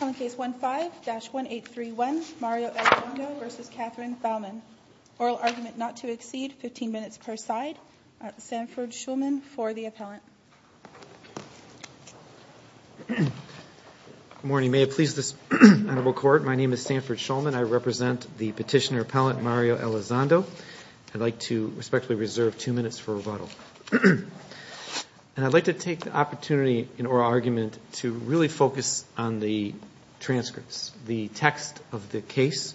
On Case 15-1831, Mario Elizondo v. Catherine Bauman. Oral argument not to exceed 15 minutes per side. Sanford Shulman for the appellant. Good morning. May it please this honorable court, my name is Sanford Shulman. I represent the petitioner appellant, Mario Elizondo. I'd like to respectfully reserve two minutes for rebuttal. And I'd like to take the opportunity in oral argument to really focus on the transcripts, the text of the case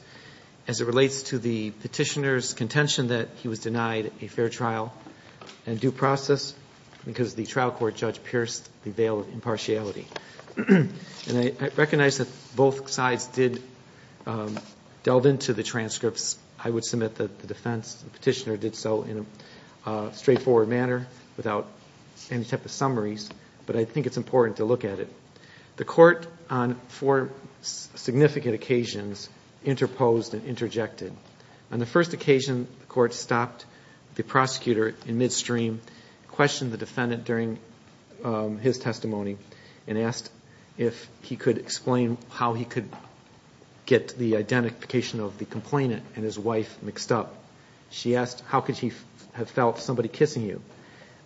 as it relates to the petitioner's contention that he was denied a fair trial and due process because the trial court judge pierced the veil of impartiality. And I recognize that both sides did delve into the transcripts. I would submit that the defense petitioner did so in a straightforward manner without any type of summaries. But I think it's important to look at it. The court on four significant occasions interposed and interjected. On the first occasion, the court stopped the prosecutor in midstream, questioned the defendant during his testimony, and asked if he could explain how he could get the identification of the complainant and his wife mixed up. She asked, how could he have felt somebody kissing you?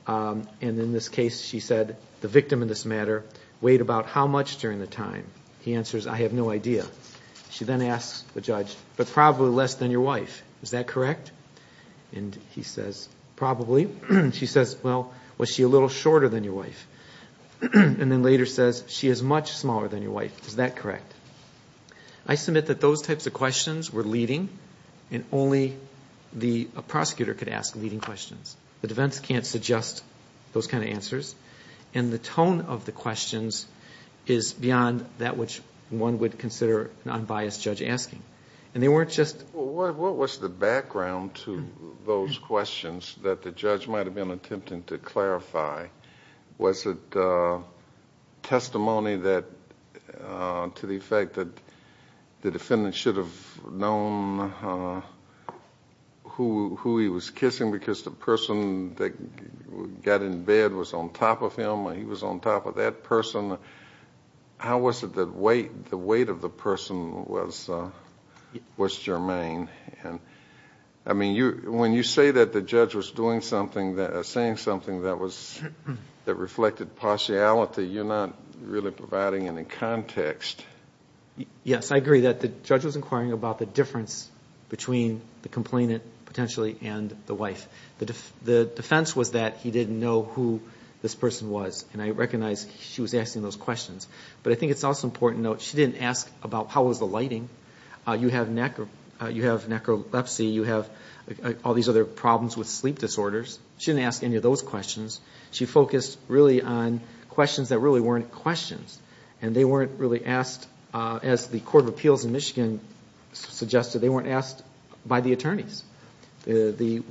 And in this case, she said, the victim in this matter weighed about how much during the time? He answers, I have no idea. She then asks the judge, but probably less than your wife. Is that correct? And he says, probably. She says, well, was she a little shorter than your wife? And then later says, she is much smaller than your wife. Is that correct? I submit that those types of questions were leading, and only a prosecutor could ask leading questions. The defense can't suggest those kind of answers. And the tone of the questions is beyond that which one would consider an unbiased judge asking. And they weren't just – What was the background to those questions that the judge might have been attempting to clarify? Was it testimony to the effect that the defendant should have known who he was kissing because the person that got in bed was on top of him or he was on top of that person? How was it that the weight of the person was germane? I mean, when you say that the judge was doing something, saying something that reflected partiality, you're not really providing any context. Yes, I agree that the judge was inquiring about the difference between the complainant, potentially, and the wife. The defense was that he didn't know who this person was. And I recognize she was asking those questions. But I think it's also important to note she didn't ask about how was the lighting. You have necrolepsy. You have all these other problems with sleep disorders. She didn't ask any of those questions. She focused really on questions that really weren't questions. And they weren't really asked, as the Court of Appeals in Michigan suggested, they weren't asked by the attorneys. The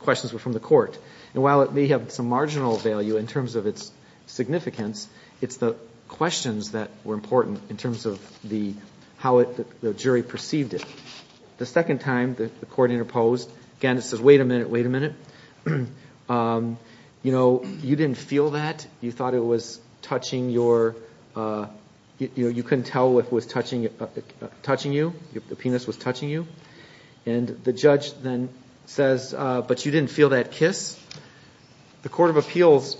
questions were from the court. And while it may have some marginal value in terms of its significance, it's the questions that were important in terms of how the jury perceived it. The second time the court interposed, again, it says, wait a minute, wait a minute. You know, you didn't feel that. You thought it was touching your, you couldn't tell if it was touching you, if the penis was touching you. And the judge then says, but you didn't feel that kiss. The Court of Appeals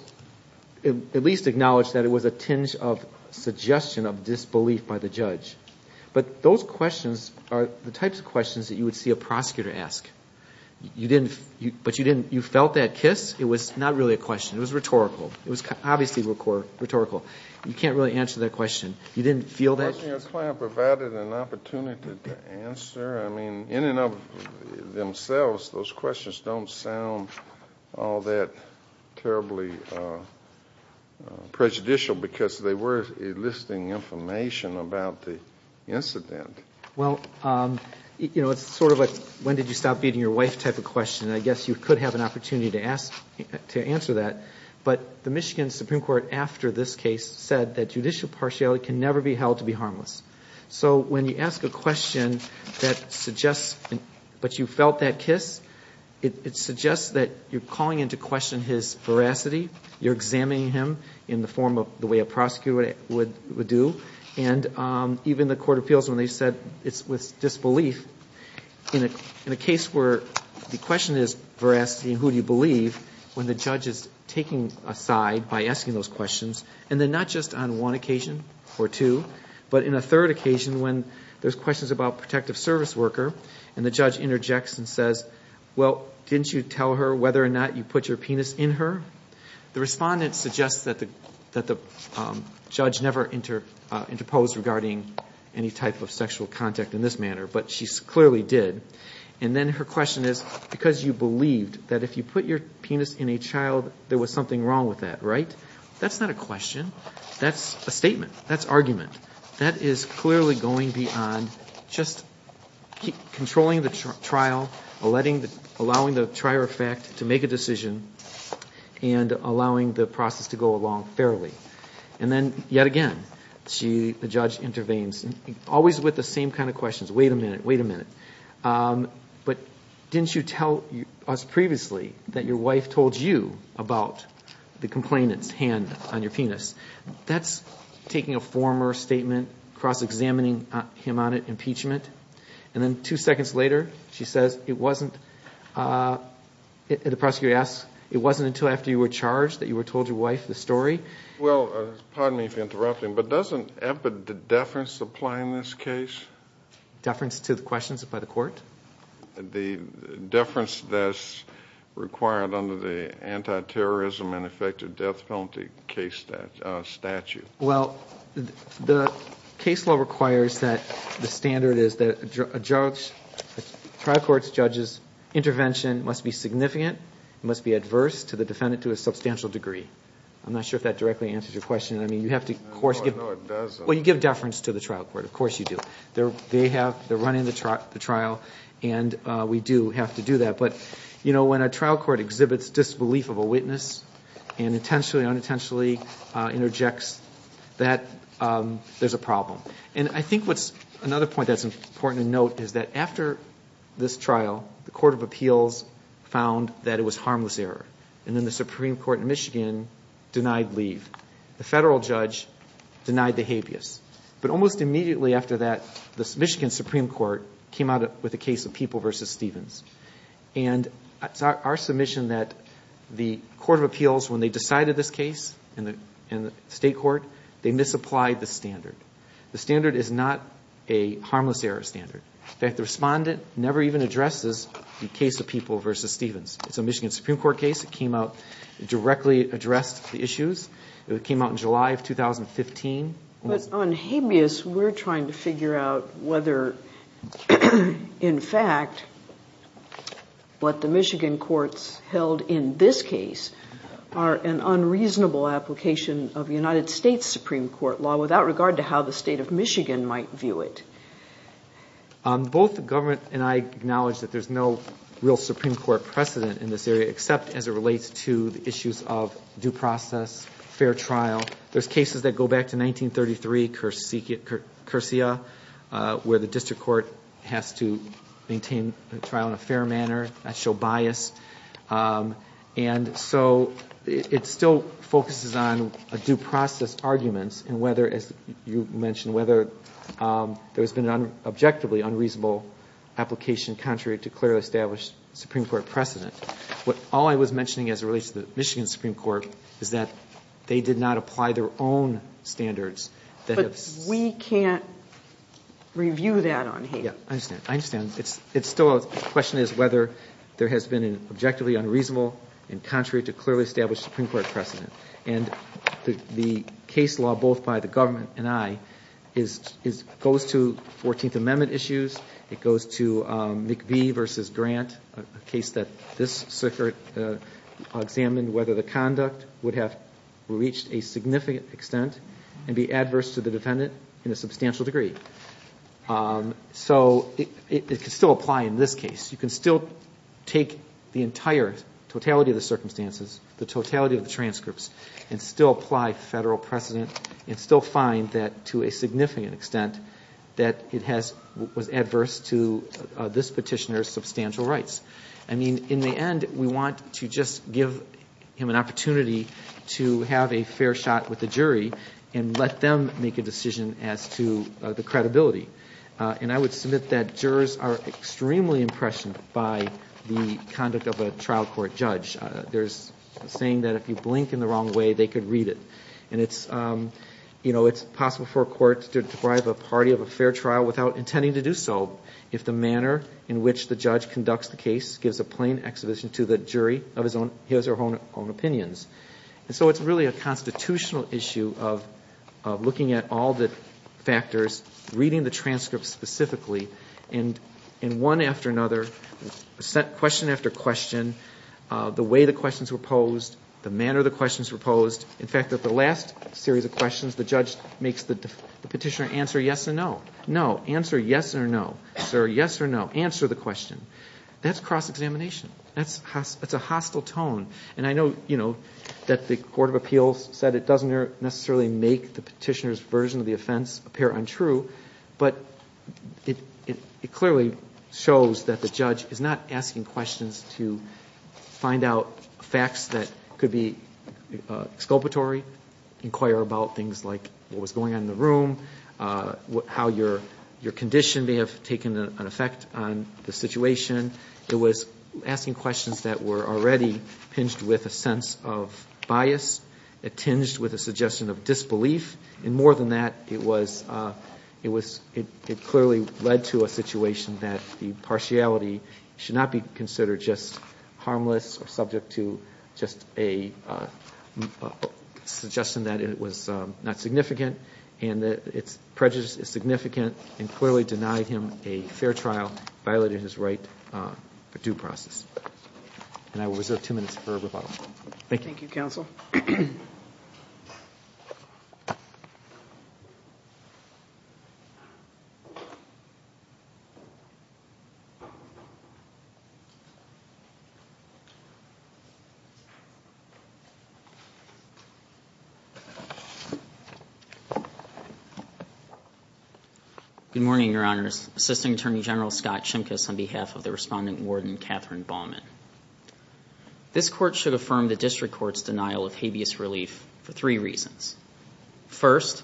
at least acknowledged that it was a tinge of suggestion of disbelief by the judge. But those questions are the types of questions that you would see a prosecutor ask. You didn't, but you didn't, you felt that kiss. It was not really a question. It was rhetorical. It was obviously rhetorical. You can't really answer that question. You didn't feel that. Wasn't your client provided an opportunity to answer? I mean, in and of themselves, those questions don't sound all that terribly prejudicial because they were enlisting information about the incident. Well, you know, it's sort of like when did you stop beating your wife type of question. I guess you could have an opportunity to answer that. But the Michigan Supreme Court after this case said that judicial partiality can never be held to be harmless. So when you ask a question that suggests, but you felt that kiss, it suggests that you're calling into question his veracity. You're examining him in the form of the way a prosecutor would do. And even the Court of Appeals, when they said it's with disbelief, in a case where the question is veracity and who do you believe, when the judge is taking a side by asking those questions, and then not just on one occasion or two, but in a third occasion when there's questions about a protective service worker, and the judge interjects and says, well, didn't you tell her whether or not you put your penis in her? The respondent suggests that the judge never interposed regarding any type of sexual contact in this manner, but she clearly did. And then her question is, because you believed that if you put your penis in a child, there was something wrong with that, right? That's not a question. That's a statement. That's argument. That is clearly going beyond just controlling the trial, allowing the trier of fact to make a decision, and allowing the process to go along fairly. And then yet again, the judge intervenes, always with the same kind of questions. Wait a minute. Wait a minute. But didn't you tell us previously that your wife told you about the complainant's hand on your penis? That's taking a former statement, cross-examining him on it, impeachment. And then two seconds later, she says it wasn't, the prosecutor asks, it wasn't until after you were charged that you told your wife the story? Well, pardon me for interrupting, but doesn't deference apply in this case? Deference to the questions by the court? The deference that's required under the anti-terrorism and effective death penalty case statute. Well, the case law requires that the standard is that a judge, a trial court's judge's intervention must be significant, must be adverse to the defendant to a substantial degree. I'm not sure if that directly answers your question. I mean, you have to of course give deference to the trial court. Of course you do. They're running the trial, and we do have to do that. But, you know, when a trial court exhibits disbelief of a witness and intentionally or unintentionally interjects that, there's a problem. And I think another point that's important to note is that after this trial, the Court of Appeals found that it was harmless error. And then the Supreme Court in Michigan denied leave. The federal judge denied the habeas. But almost immediately after that, the Michigan Supreme Court came out with a case of People v. Stevens. And it's our submission that the Court of Appeals, when they decided this case in the state court, they misapplied the standard. The standard is not a harmless error standard. In fact, the respondent never even addresses the case of People v. Stevens. It's a Michigan Supreme Court case. It came out, directly addressed the issues. It came out in July of 2015. But on habeas, we're trying to figure out whether, in fact, what the Michigan courts held in this case are an unreasonable application of United States Supreme Court law without regard to how the state of Michigan might view it. Both the government and I acknowledge that there's no real Supreme Court precedent in this area, except as it relates to the issues of due process, fair trial. There's cases that go back to 1933, Curcia, where the district court has to maintain the trial in a fair manner, not show bias. And so it still focuses on due process arguments and whether, as you mentioned, whether there's been an objectively unreasonable application contrary to clearly established Supreme Court precedent. All I was mentioning as it relates to the Michigan Supreme Court is that they did not apply their own standards. But we can't review that on habeas. I understand. The question is whether there has been an objectively unreasonable and contrary to clearly established Supreme Court precedent. And the case law, both by the government and I, goes to 14th Amendment issues. It goes to McVeigh v. Grant, a case that this circuit examined, whether the conduct would have reached a significant extent and be adverse to the defendant in a substantial degree. So it could still apply in this case. You can still take the entire totality of the circumstances, the totality of the transcripts, and still apply federal precedent and still find that, to a significant extent, that it was adverse to this petitioner's substantial rights. I mean, in the end, we want to just give him an opportunity to have a fair shot with the jury and let them make a decision as to the credibility. And I would submit that jurors are extremely impressioned by the conduct of a trial court judge. There's a saying that if you blink in the wrong way, they could read it. And it's possible for a court to deprive a party of a fair trial without intending to do so if the manner in which the judge conducts the case gives a plain exhibition to the jury of his own opinions. And so it's really a constitutional issue of looking at all the factors, reading the transcripts specifically, and one after another, question after question, the way the questions were posed, the manner the questions were posed. In fact, at the last series of questions, the judge makes the petitioner answer yes or no. No, answer yes or no. Sir, yes or no. Answer the question. That's cross-examination. That's a hostile tone. And I know that the Court of Appeals said it doesn't necessarily make the petitioner's version of the offense appear untrue, but it clearly shows that the judge is not asking questions to find out facts that could be exculpatory, inquire about things like what was going on in the room, how your condition may have taken an effect on the situation. It was asking questions that were already pinged with a sense of bias, tinged with a suggestion of disbelief, and more than that, it clearly led to a situation that the partiality should not be considered just harmless or subject to just a suggestion that it was not significant, and that its prejudice is significant and clearly denied him a fair trial, violated his right for due process. And I will reserve two minutes for rebuttal. Thank you. Thank you, Counsel. Good morning, Your Honors. Assistant Attorney General Scott Shimkus on behalf of the Respondent Warden, Catherine Baumann. This Court should affirm the District Court's denial of habeas relief for three reasons. First,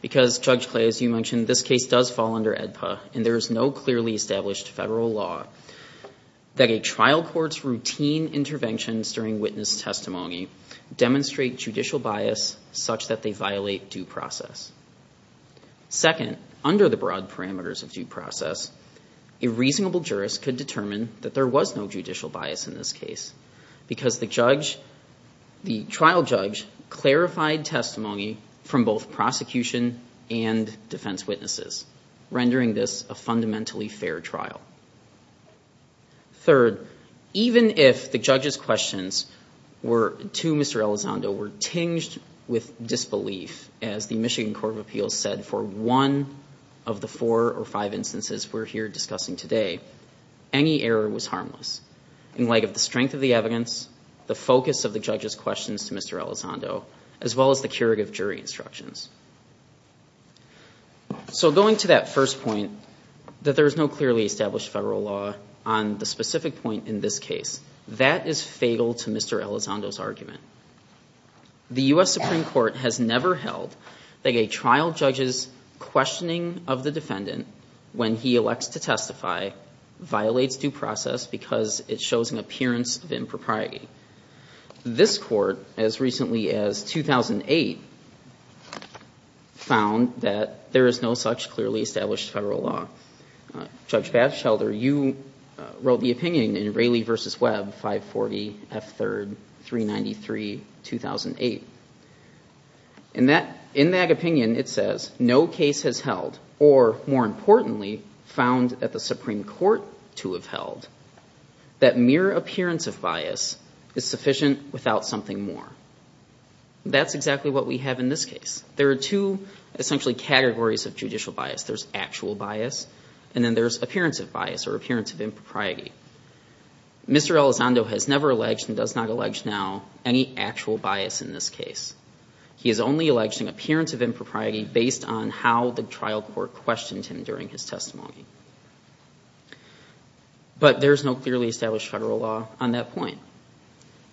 because, Judge Clay, as you mentioned, this case does fall under AEDPA, and there is no clearly established federal law that a trial court's routine interventions during witness testimony demonstrate judicial bias such that they violate due process. Second, under the broad parameters of due process, a reasonable jurist could determine that there was no judicial bias in this case because the trial judge clarified testimony from both prosecution and defense witnesses, rendering this a fundamentally fair trial. Third, even if the judge's questions to Mr. Elizondo were tinged with disbelief as the Michigan Court of Appeals said for one of the four or five instances we're here discussing today, any error was harmless in light of the strength of the evidence, the focus of the judge's questions to Mr. Elizondo, as well as the curative jury instructions. So going to that first point, that there is no clearly established federal law, on the specific point in this case, that is fatal to Mr. Elizondo's argument. The U.S. Supreme Court has never held that a trial judge's questioning of the defendant when he elects to testify violates due process because it shows an appearance of impropriety. This Court, as recently as 2008, found that there is no such clearly established federal law. Judge Batchelder, you wrote the opinion in Raley v. Webb, 540 F. 3rd, 393, 2008. In that opinion, it says, no case has held or, more importantly, found at the Supreme Court to have held that mere appearance of bias is sufficient without something more. That's exactly what we have in this case. There are two, essentially, categories of judicial bias. There's actual bias, and then there's appearance of bias or appearance of impropriety. Mr. Elizondo has never alleged and does not allege now any actual bias in this case. He has only alleged an appearance of impropriety based on how the trial court questioned him during his testimony. But there is no clearly established federal law on that point.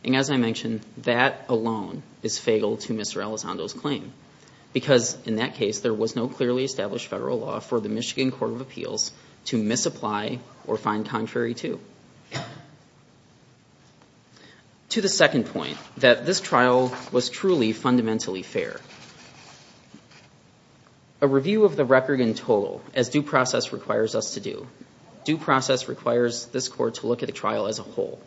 And as I mentioned, that alone is fatal to Mr. Elizondo's claim because, in that case, there was no clearly established federal law for the Michigan Court of Appeals to misapply or find contrary to. To the second point, that this trial was truly fundamentally fair. A review of the record in total, as due process requires us to do, due process requires this Court to look at the trial as a whole.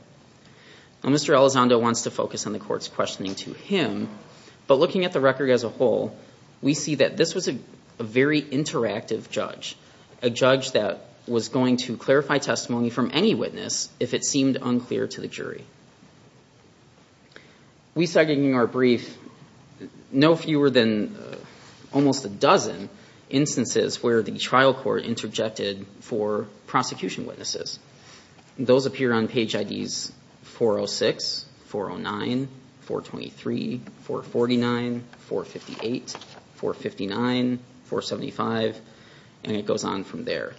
Now, Mr. Elizondo wants to focus on the Court's questioning to him, but looking at the record as a whole, we see that this was a very interactive judge, a judge that was going to clarify testimony from any witness if it seemed unclear to the jury. We cited in our brief no fewer than almost a dozen instances where the trial court interjected for prosecution witnesses. Those appear on page IDs 406, 409, 423, 449, 458, 459, 475, and it goes on from there.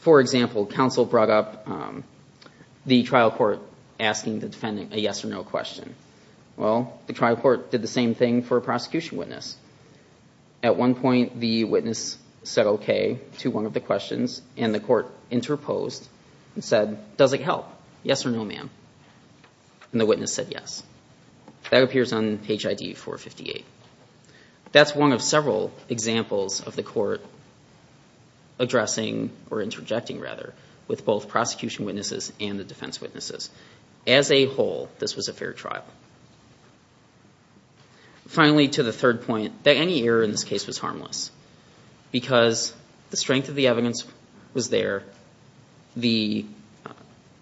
For example, counsel brought up the trial court asking the defendant a yes or no question. Well, the trial court did the same thing for a prosecution witness. At one point, the witness said okay to one of the questions, and the court interposed and said, does it help, yes or no, ma'am? And the witness said yes. That appears on page ID 458. That's one of several examples of the court addressing or interjecting, rather, with both prosecution witnesses and the defense witnesses. As a whole, this was a fair trial. Finally, to the third point, any error in this case was harmless because the strength of the evidence was there. The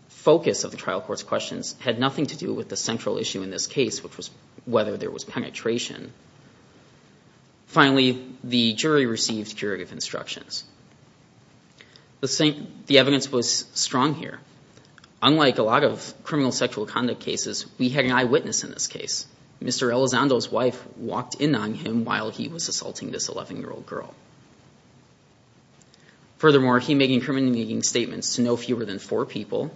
focus of the trial court's questions had nothing to do with the central issue in this case, which was whether there was penetration. Finally, the jury received curative instructions. The evidence was strong here. Unlike a lot of criminal sexual conduct cases, we had an eyewitness in this case. Mr. Elizondo's wife walked in on him while he was assaulting this 11-year-old girl. Furthermore, he made incriminating statements to no fewer than four people,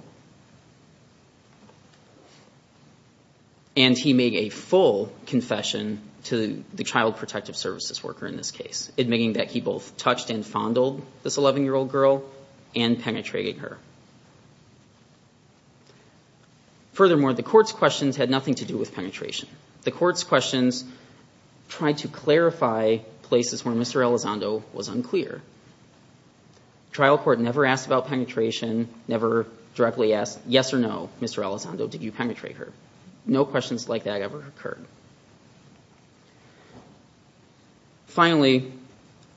and he made a full confession to the child protective services worker in this case, admitting that he both touched and fondled this 11-year-old girl and penetrated her. Furthermore, the court's questions had nothing to do with penetration. The court's questions tried to clarify places where Mr. Elizondo was unclear. The trial court never asked about penetration, never directly asked, yes or no, Mr. Elizondo, did you penetrate her? No questions like that ever occurred. Finally,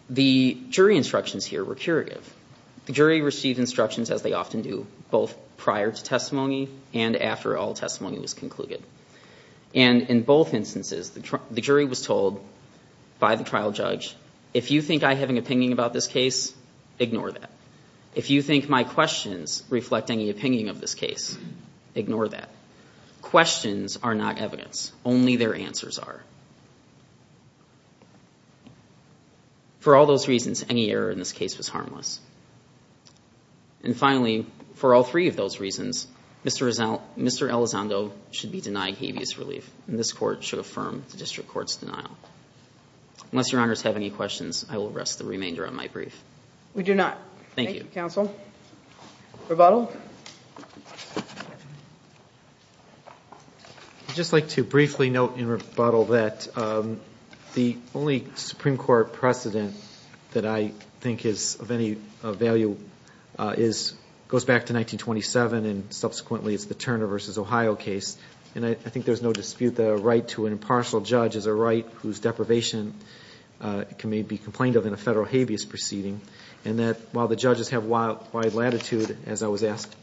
the jury instructions here were curative. The jury received instructions as they often do, both prior to testimony and after all testimony was concluded. And in both instances, the jury was told by the trial judge, if you think I have an opinion about this case, ignore that. If you think my questions reflect any opinion of this case, ignore that. Questions are not evidence. Only their answers are. For all those reasons, any error in this case was harmless. And finally, for all three of those reasons, Mr. Elizondo should be denied habeas relief, and this court should affirm the district court's denial. Unless your honors have any questions, I will rest the remainder of my brief. We do not. Thank you. Thank you, counsel. Rebuttal? Rebuttal? I'd just like to briefly note in rebuttal that the only Supreme Court precedent that I think is of any value goes back to 1927, and subsequently it's the Turner v. Ohio case. And I think there's no dispute that a right to an impartial judge is a right whose deprivation can be complained of in a federal habeas proceeding, and that while the judges have wide latitude, as I was asked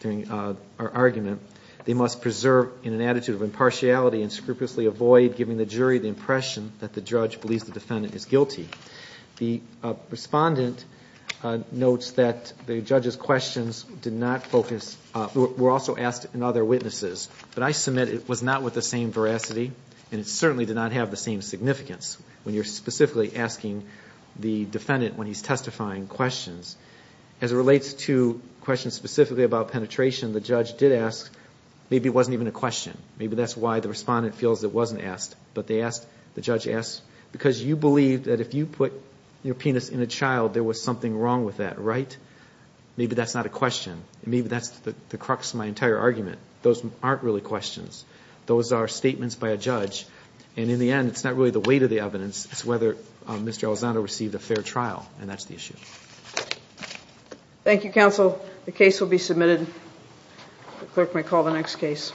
during our argument, they must preserve in an attitude of impartiality and scrupulously avoid giving the jury the impression that the judge believes the defendant is guilty. The respondent notes that the judge's questions were also asked in other witnesses, but I submit it was not with the same veracity, and it certainly did not have the same significance. When you're specifically asking the defendant when he's testifying questions. As it relates to questions specifically about penetration, the judge did ask, maybe it wasn't even a question. Maybe that's why the respondent feels it wasn't asked. But the judge asked, because you believe that if you put your penis in a child, there was something wrong with that, right? Maybe that's not a question. Maybe that's the crux of my entire argument. Those aren't really questions. Those are statements by a judge. And in the end, it's not really the weight of the evidence. It's whether Mr. Elizondo received a fair trial, and that's the issue. Thank you, counsel. The case will be submitted. The clerk may call the next case.